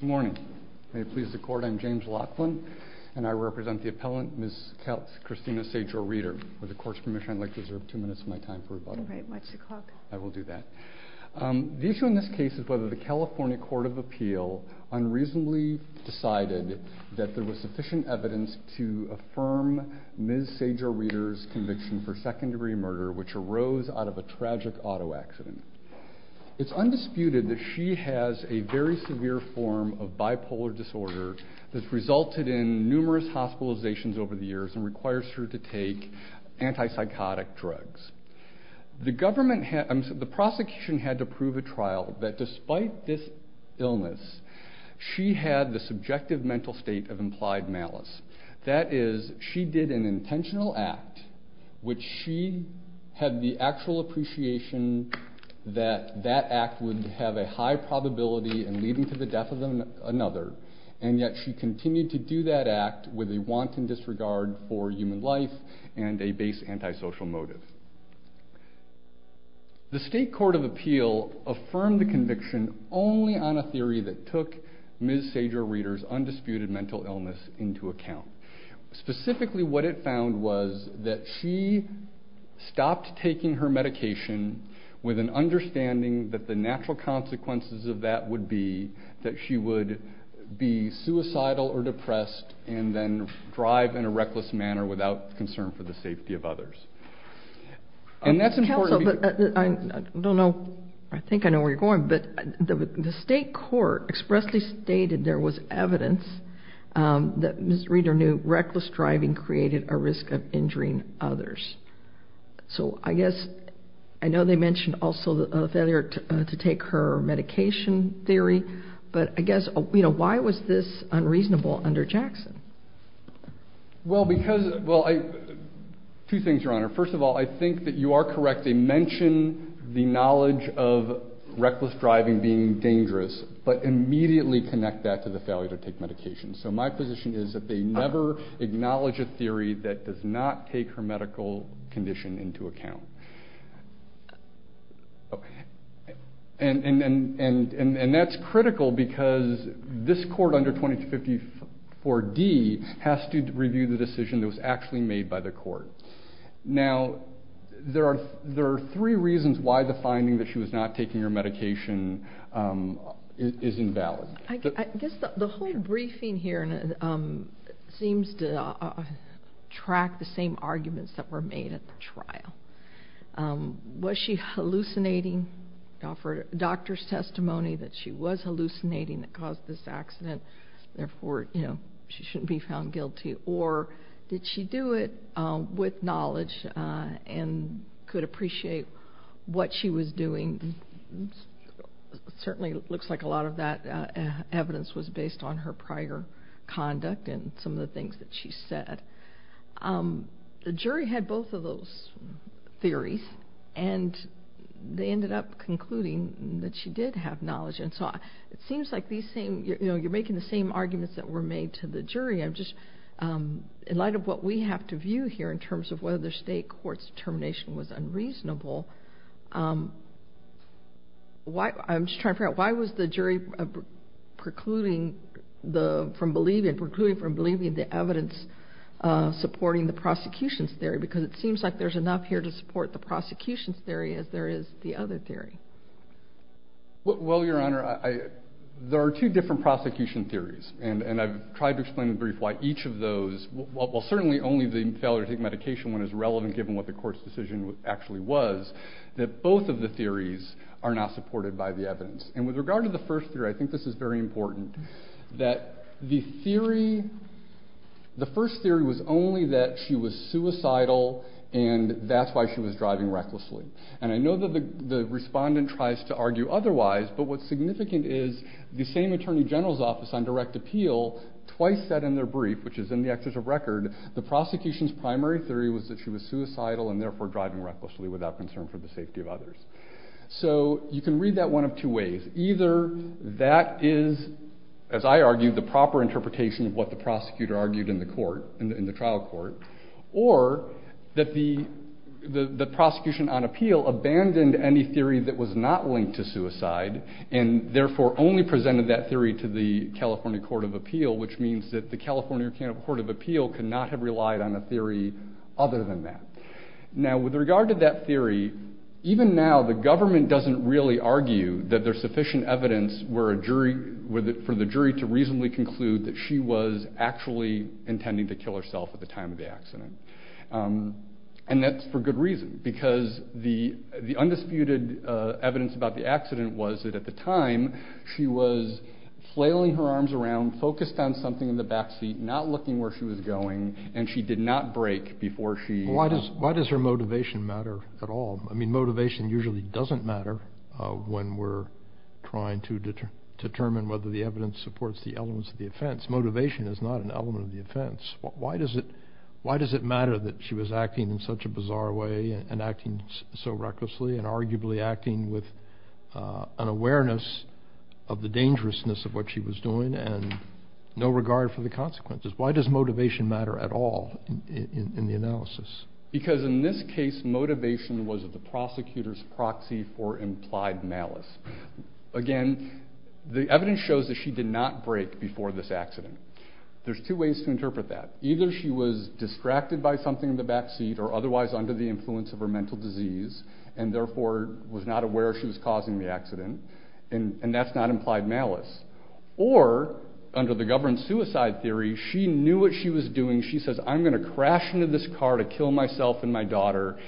Good morning. May it please the court, I'm James Laughlin and I represent the appellant Ms. Christina Sajor-Reeder. With the court's permission, I'd like to reserve two minutes of my time for rebuttal. All right, what's the clock? I will do that. The issue in this case is whether the California Court of Appeal unreasonably decided that there was sufficient evidence to affirm Ms. Sajor-Reeder's conviction for second degree murder, which arose out of a tragic auto accident. It's undisputed that she has a very severe form of bipolar disorder that's resulted in numerous hospitalizations over the years and requires her to take antipsychotic drugs. The prosecution had to prove at trial that despite this illness, she had the subjective mental state of implied malice. That is, she did an intentional act which she had the actual appreciation that that act would have a high probability in leading to the death of another, and yet she continued to do that act with a wanton disregard for human life and a base antisocial motive. The state court of appeal affirmed the conviction only on a theory that took Ms. Sajor-Reeder's undisputed mental illness into account. Specifically, what it with an understanding that the natural consequences of that would be that she would be suicidal or depressed and then drive in a reckless manner without concern for the safety of others. And that's important... Counsel, but I don't know, I think I know where you're going, but the state court expressly stated there was evidence that Ms. Reeder knew reckless driving created a risk of injuring others. So I guess, I know they mentioned also the failure to take her medication theory, but I guess, you know, why was this unreasonable under Jackson? Well, because, well, two things, Your Honor. First of all, I think that you are correct. They mention the knowledge of reckless driving being dangerous, but immediately connect that to the failure to take medication. So my position is that they never acknowledge a theory that does not take her medical condition into account. And that's critical because this court under 2254D has to review the decision that was actually made by the court. Now, there are three reasons why the finding that she was not taking her medication is invalid. I guess the whole briefing here seems to track the same arguments that were made at the trial. Was she hallucinating? The doctor's testimony that she was hallucinating that caused this accident, therefore, you know, she shouldn't be found guilty. Or did she do it with knowledge and could appreciate what she was doing? Certainly looks like a lot of that evidence was based on her prior conduct and some of the things that she said. The jury had both of those theories and they ended up concluding that she did have knowledge. And so it seems like these same, you know, you're making the same arguments that were made to the jury. I'm just, in light of what we have to view here in terms of whether the state court's determination was unreasonable, why, I'm just trying to figure out, why was the jury precluding the, from believing, precluding from believing the evidence supporting the prosecution's theory? Because it seems like there's enough here to support the prosecution's theory as there is the other theory. Well, Your Honor, there are two different prosecution theories and I've tried to explain in brief why certainly only the failure to take medication one is relevant given what the court's decision actually was, that both of the theories are not supported by the evidence. And with regard to the first theory, I think this is very important, that the theory, the first theory was only that she was suicidal and that's why she was driving recklessly. And I know that the respondent tries to argue otherwise, but what's significant is the same attorney general's office on direct appeal twice said in their brief, which is in the excerpt of record, the prosecution's primary theory was that she was suicidal and therefore driving recklessly without concern for the safety of others. So you can read that one of two ways. Either that is, as I argue, the proper interpretation of what the prosecutor argued in the court, in the trial court, or that the prosecution on appeal abandoned any theory that was not linked to suicide and therefore only presented that theory to the California Court of Appeal, which means that the California Court of Appeal could not have relied on a theory other than that. Now with regard to that theory, even now the government doesn't really argue that there's sufficient evidence for the jury to reasonably conclude that she was actually intending to kill herself at the time of the accident. And that's for good reason, because the undisputed evidence about the accident was that at the time she was flailing her arms around, focused on something in the backseat, not looking where she was going, and she did not break before she... Why does her motivation matter at all? I mean motivation usually doesn't matter when we're trying to determine whether the evidence supports the elements of the offense. Motivation is not an element of the offense. Why does it matter that she was acting in such a bizarre way and acting so recklessly and arguably acting with an awareness of the dangerousness of what she was doing and no regard for the consequences? Why does motivation matter at all in the analysis? Because in this case motivation was at the prosecutor's proxy for implied malice. Again, the evidence shows that she did not break before this accident. There's two ways to interpret that. Either she was distracted by something in the backseat or otherwise under the influence of her mental disease and therefore was not aware she was causing the accident and that's not implied malice. Or under the government suicide theory, she knew what she was doing. She says I'm going to crash into this car to kill myself and my daughter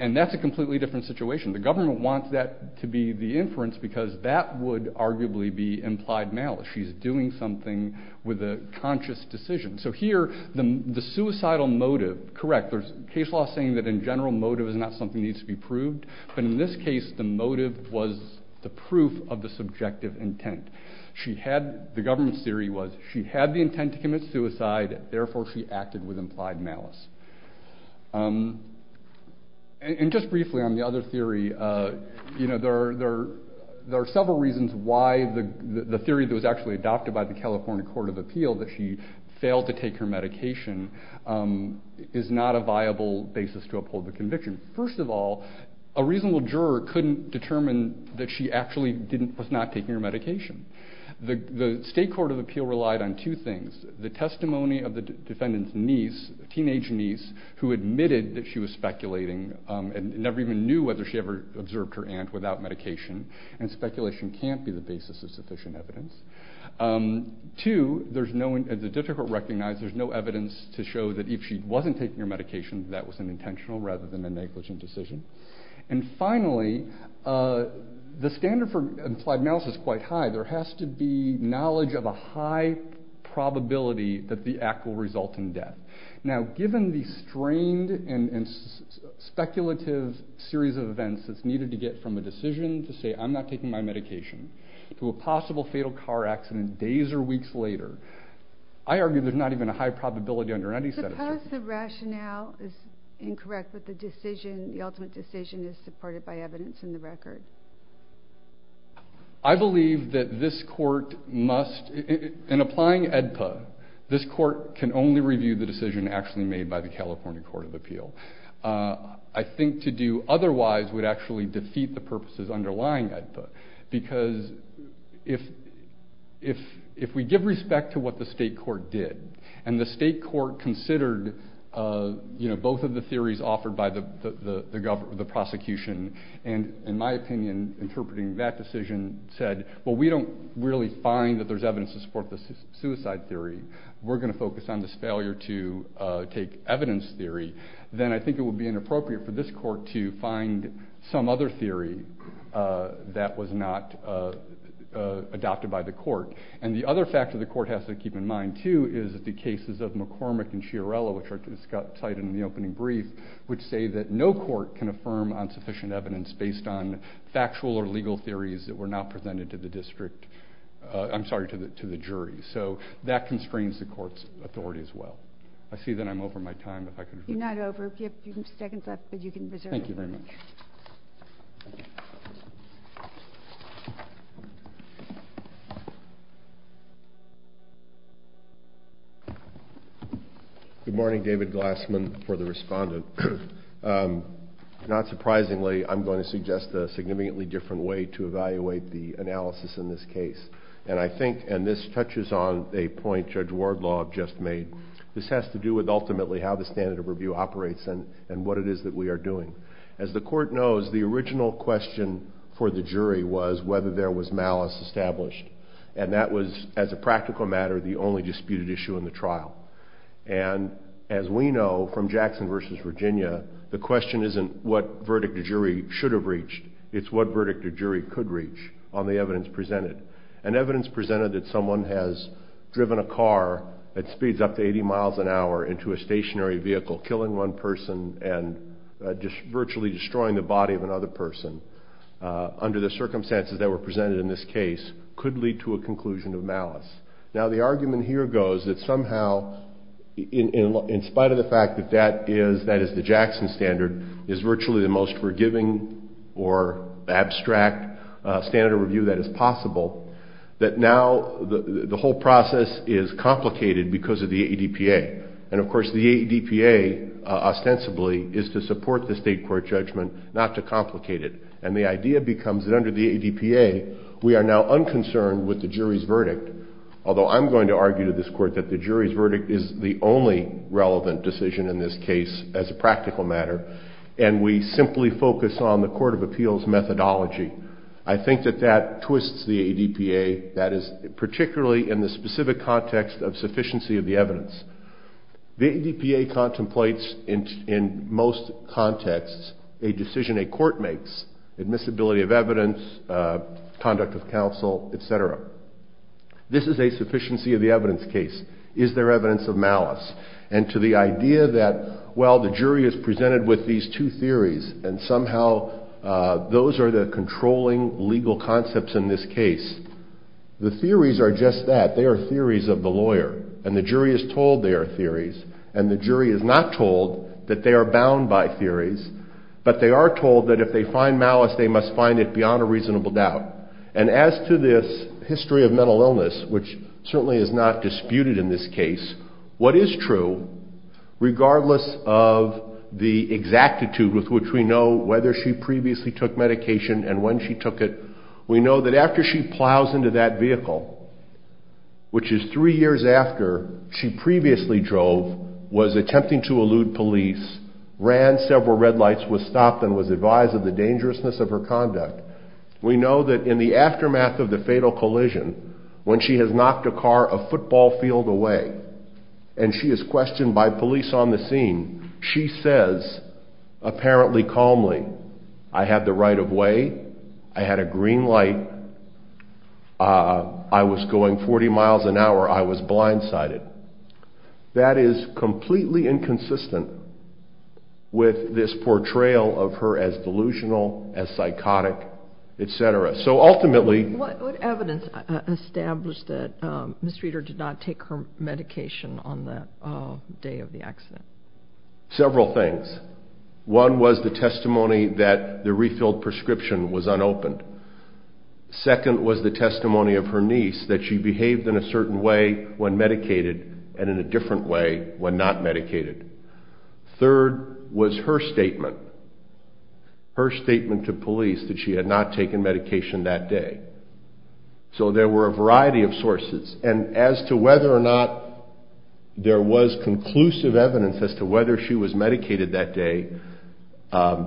and that's a completely different situation. The government wants that to be the inference because that would arguably be implied malice. She's doing something with a conscious decision. So here the suicidal motive, correct, there's case law saying that in general motive is not something needs to be proved. But in this case the motive was the proof of the subjective intent. She had, the government's theory was she had the intent to commit suicide, therefore she acted with implied malice. And just briefly on the other theory, you know, there are several reasons why the theory that was actually adopted by the California Court of Appeal that she First of all, a reasonable juror couldn't determine that she actually was not taking her medication. The state court of appeal relied on two things. The testimony of the defendant's niece, teenage niece, who admitted that she was speculating and never even knew whether she ever observed her aunt without medication. And speculation can't be the basis of sufficient evidence. Two, there's no, it's difficult to recognize, there's no evidence to show that if she wasn't taking her medication that was an intentional rather than a negligent decision. And finally, the standard for implied malice is quite high. There has to be knowledge of a high probability that the act will result in death. Now given the strained and speculative series of events that's needed to get from a decision to say I'm not taking my medication to a possible fatal car accident days or weeks later, I argue there's not even a high probability under any statute. Suppose the rationale is incorrect but the decision, the ultimate decision is supported by evidence in the record. I believe that this court must, in applying AEDPA, this court can only review the decision actually made by the California Court of Appeal. I think to do otherwise would actually defeat the purposes underlying AEDPA. Because if we give respect to what the state court did and the state court considered, you know, both of the theories offered by the prosecution and in my opinion interpreting that decision said, well we don't really find that there's evidence to support the suicide theory. We're going to focus on this failure to take evidence theory. Then I think it would be theory that was not adopted by the court. And the other factor the court has to keep in mind too is the cases of McCormick and Chiarella, which are cited in the opening brief, which say that no court can affirm on sufficient evidence based on factual or legal theories that were not presented to the district, I'm sorry, to the jury. So that constrains the court's authority as well. I see Good morning, David Glassman for the respondent. Not surprisingly, I'm going to suggest a significantly different way to evaluate the analysis in this case. And I think, and this touches on a point Judge Wardlaw just made, this has to do with ultimately how the standard of doing. As the court knows, the original question for the jury was whether there was malice established. And that was, as a practical matter, the only disputed issue in the trial. And as we know from Jackson versus Virginia, the question isn't what verdict the jury should have reached, it's what verdict the jury could reach on the evidence presented. And evidence presented that someone has driven a car at speeds up to 80 miles an hour into a stationary vehicle, killing one person, virtually destroying the body of another person, under the circumstances that were presented in this case, could lead to a conclusion of malice. Now the argument here goes that somehow, in spite of the fact that that is the Jackson standard, is virtually the most forgiving or abstract standard of review that is possible, that now the whole process is complicated because of the ADPA. And of course the ADPA, ostensibly, is to support the state court judgment, not to complicate it. And the idea becomes that under the ADPA, we are now unconcerned with the jury's verdict, although I'm going to argue to this court that the jury's verdict is the only relevant decision in this case as a practical matter, and we simply focus on the court of appeals methodology. I think that that twists the ADPA, that is, particularly in the specific context of sufficiency of the evidence. The ADPA contemplates, in most contexts, a decision a court makes, admissibility of evidence, conduct of counsel, etc. This is a sufficiency of the evidence case. Is there evidence of malice? And to the idea that, well, the jury is presented with these two theories, and somehow those are the controlling legal concepts in this case, the theories are just that. They are theories of the lawyer, and the jury is told they are theories, and the jury is not told that they are bound by theories, but they are told that if they find malice, they must find it beyond a reasonable doubt. And as to this history of mental illness, which certainly is not disputed in this case, what is true, regardless of the exactitude with which we know whether she previously took medication and when she took it, we know that after she plows into that vehicle, which is three years after she previously drove, was attempting to elude police, ran, several red lights, was stopped, and was advised of the dangerousness of her conduct, we know that in the aftermath of the fatal collision, when she has knocked a car a football field away, and she is questioned by police on the scene, she says, apparently calmly, I had the right of way, I had a green light, I was going 40 miles an hour, I was blindsided. That is completely inconsistent with this portrayal of her as delusional, as psychotic, etc. So ultimately... What evidence established that Ms. Reeder did not take her medication on the day of the accident? Several things. One was the testimony that the refilled prescription was unopened. Second was the testimony of her niece that she behaved in a certain way when medicated, and in a different way when not medicated. Third was her statement, her statement to police that she had not taken medication that day. So there were a variety of sources, and as to whether or not there was conclusive evidence as to whether she was medicated that day,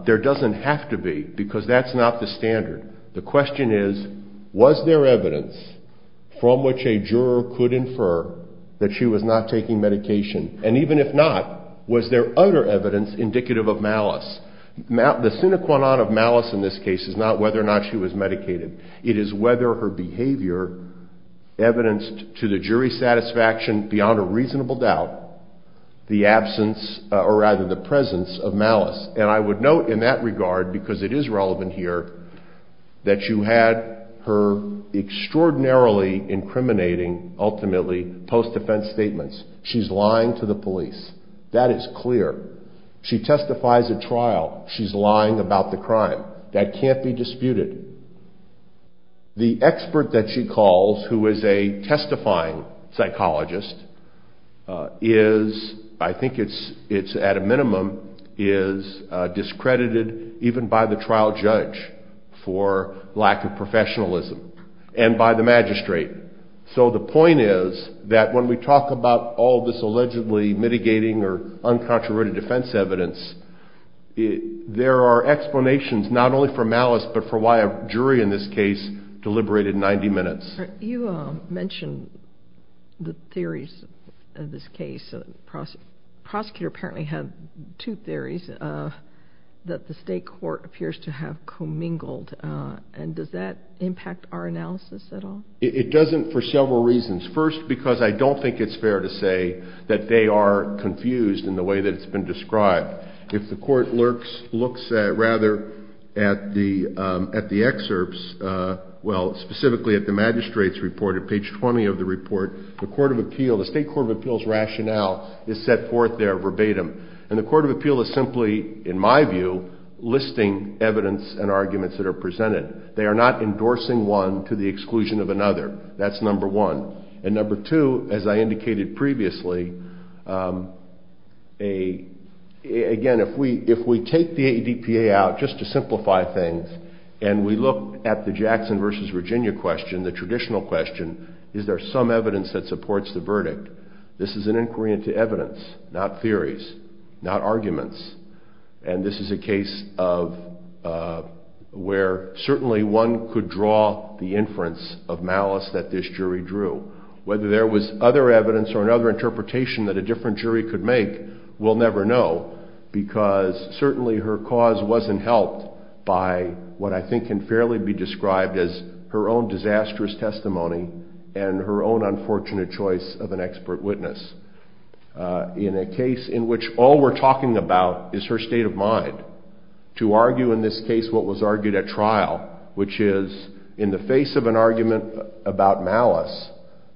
there doesn't have to be, because that's not the standard. The question is, was there evidence from which a juror could infer that she was not taking medication, and even if not, was there other evidence indicative of malice? The sine qua non of malice in this case is not whether or not she was medicated. It is whether her absence, or rather the presence of malice. And I would note in that regard, because it is relevant here, that you had her extraordinarily incriminating, ultimately, post-defense statements. She's lying to the police. That is clear. She testifies at trial. She's lying about the crime. That can't be disputed. The expert that she calls, who is a testifying psychologist, is, I think it's at a minimum, is discredited even by the trial judge for lack of professionalism, and by the magistrate. So the point is that when we talk about all this allegedly mitigating or uncontroverted defense evidence, there are explanations not only for malice, but for why a jury in this case deliberated 90 minutes. You mentioned the theories of this case. The prosecutor apparently had two theories that the state court appears to have commingled, and does that impact our analysis at all? It doesn't for several reasons. First, because I don't think it's fair to say that they are confused in the way that it's been described. If the court looks at the excerpts, well, specifically at the magistrate's report, at page 20 of the report, the court of appeal, the state court of appeal's rationale is set forth there verbatim, and the court of appeal is simply, in my view, listing evidence and arguments that are presented. They are not endorsing one to the exclusion of another. That's number one. And number two, as I indicated previously, again, if we take the ADPA out, just to simplify things, and we look at the Jackson versus Virginia question, the traditional question, is there some evidence that supports the verdict? This is an inquiry into evidence, not theories, not arguments. And this is a case where certainly one could draw the inference of malice that this jury drew. Whether there was other evidence or another interpretation that a different jury could make, we'll never know, because certainly her cause wasn't helped by what I think can fairly be described as her own disastrous testimony and her own unfortunate choice of an expert witness. In a case in which all we're talking about is her state of mind, to argue in this case what was argued at trial, which is in the face of an argument about malice,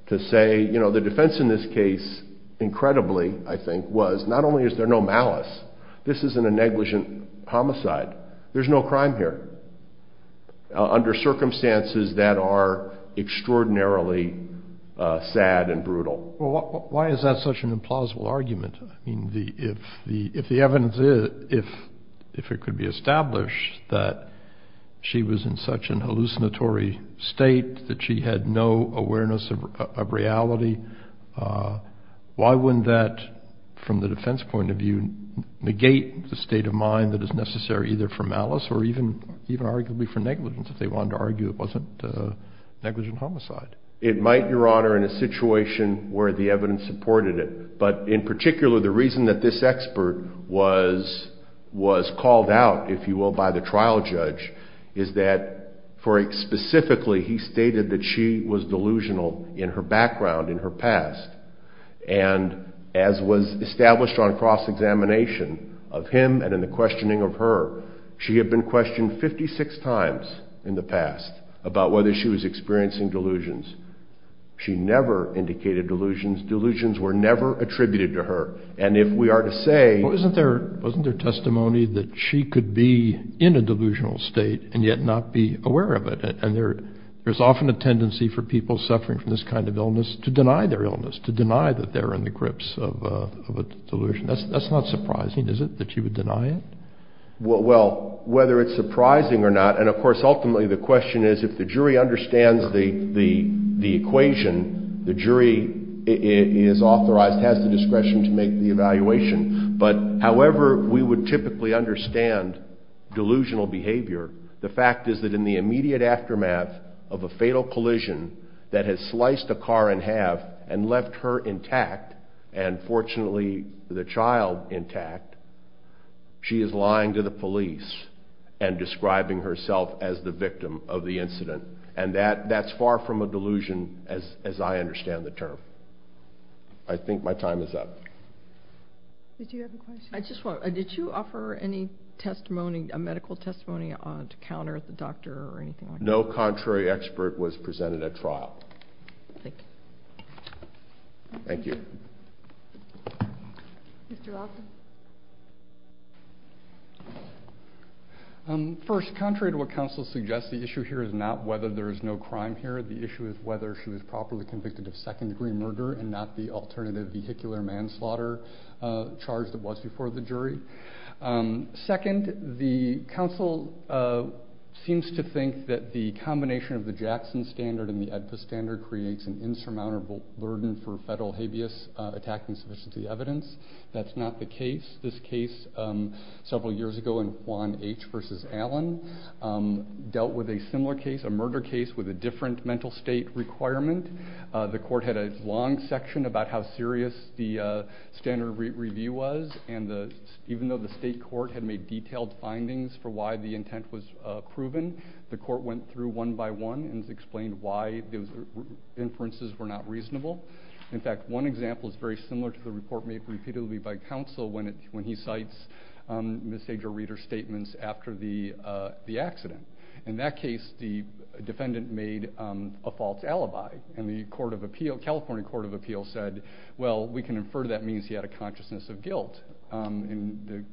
to say, you know, the defense in this case, incredibly, I think, was not only is there no malice, this isn't a negligent homicide, there's no crime here, under circumstances that are extraordinarily sad and brutal. Well, why is that such an implausible argument? I mean, if the evidence is, if it could be established that she was in such a hallucinatory state, that she had no awareness of reality, why wouldn't that, from the defense point of view, negate the state of mind that is necessary either for malice or even arguably for negligence, if they wanted to argue it wasn't a negligent homicide? It might, Your Honor, in a situation where the evidence supported it. But in particular, the reason that this expert was called out, if you will, by the trial judge, is that for specifically he stated that she was delusional in her background, in her past. And as was established on cross-examination of him and in the questioning of her, she had been questioned 56 times in the past about whether she was experiencing delusions. She never indicated delusions. Delusions were never attributed to her. And if we are to say— Well, wasn't there testimony that she could be in a delusional state and yet not be aware of it? And there's often a tendency for people suffering from this kind of illness to deny their illness, to deny that they're in the grips of a delusion. That's not surprising, is it, that she would deny it? Well, whether it's surprising or not—and, of course, ultimately the question is, if the jury understands the equation, the jury is authorized, has the discretion to make the evaluation. But however we would typically understand delusional behavior, the fact is that in the immediate aftermath of a fatal collision that has sliced a car in half and left her intact and, fortunately, the child intact, she is lying to the police and describing herself as the victim of the incident. And that's far from a delusion as I understand the term. I think my time is up. Did you have a question? I just want to—did you offer any testimony, a medical testimony to counter the doctor or anything like that? No contrary expert was presented at trial. Thank you. Thank you. Mr. Lawson. First, contrary to what counsel suggests, the issue here is not whether there is no crime here. The issue is whether she was properly convicted of second-degree murder and not the alternative vehicular manslaughter charge that was before the jury. Second, the counsel seems to think that the combination of the Jackson standard and the AEDPA standard creates an insurmountable burden for federal habeas attack insufficiency evidence. That's not the case. This case several years ago in Juan H. v. Allen dealt with a similar case, a murder case with a different mental state requirement. The court had a long section about how serious the standard review was and even though the state court had made detailed findings for why the intent was proven, the court went through one by one and explained why those inferences were not reasonable. In fact, one example is very similar to the report made repeatedly by counsel when he cites misdemeanor reader statements after the accident. In that case, the defendant made a false alibi, and the California Court of Appeals said, well, we can infer that means he had a consciousness of guilt. And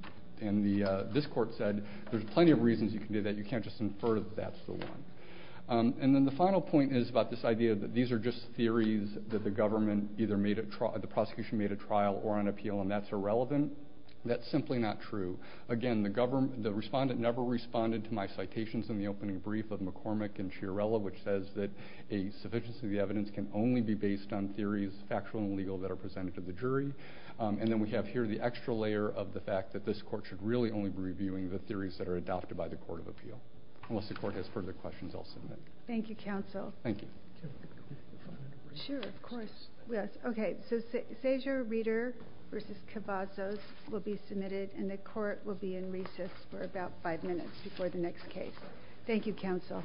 this court said, there's plenty of reasons you can do that. You can't just infer that that's the one. And then the final point is about this idea that these are just theories that the prosecution made at trial or on appeal, and that's irrelevant. That's simply not true. Again, the respondent never responded to my citations in the opening brief of McCormick and Chiarella, which says that a sufficiency of the evidence can only be based on theories, factual and legal, that are presented to the jury. And then we have here the extra layer of the fact that this court should really only be reviewing the theories that are adopted by the Court of Appeal. Unless the court has further questions, I'll submit. Thank you, counsel. Thank you. Sure, of course. Okay, so Sazer, Reeder v. Cavazos will be submitted, and the court will be in recess for about five minutes before the next case. Thank you, counsel.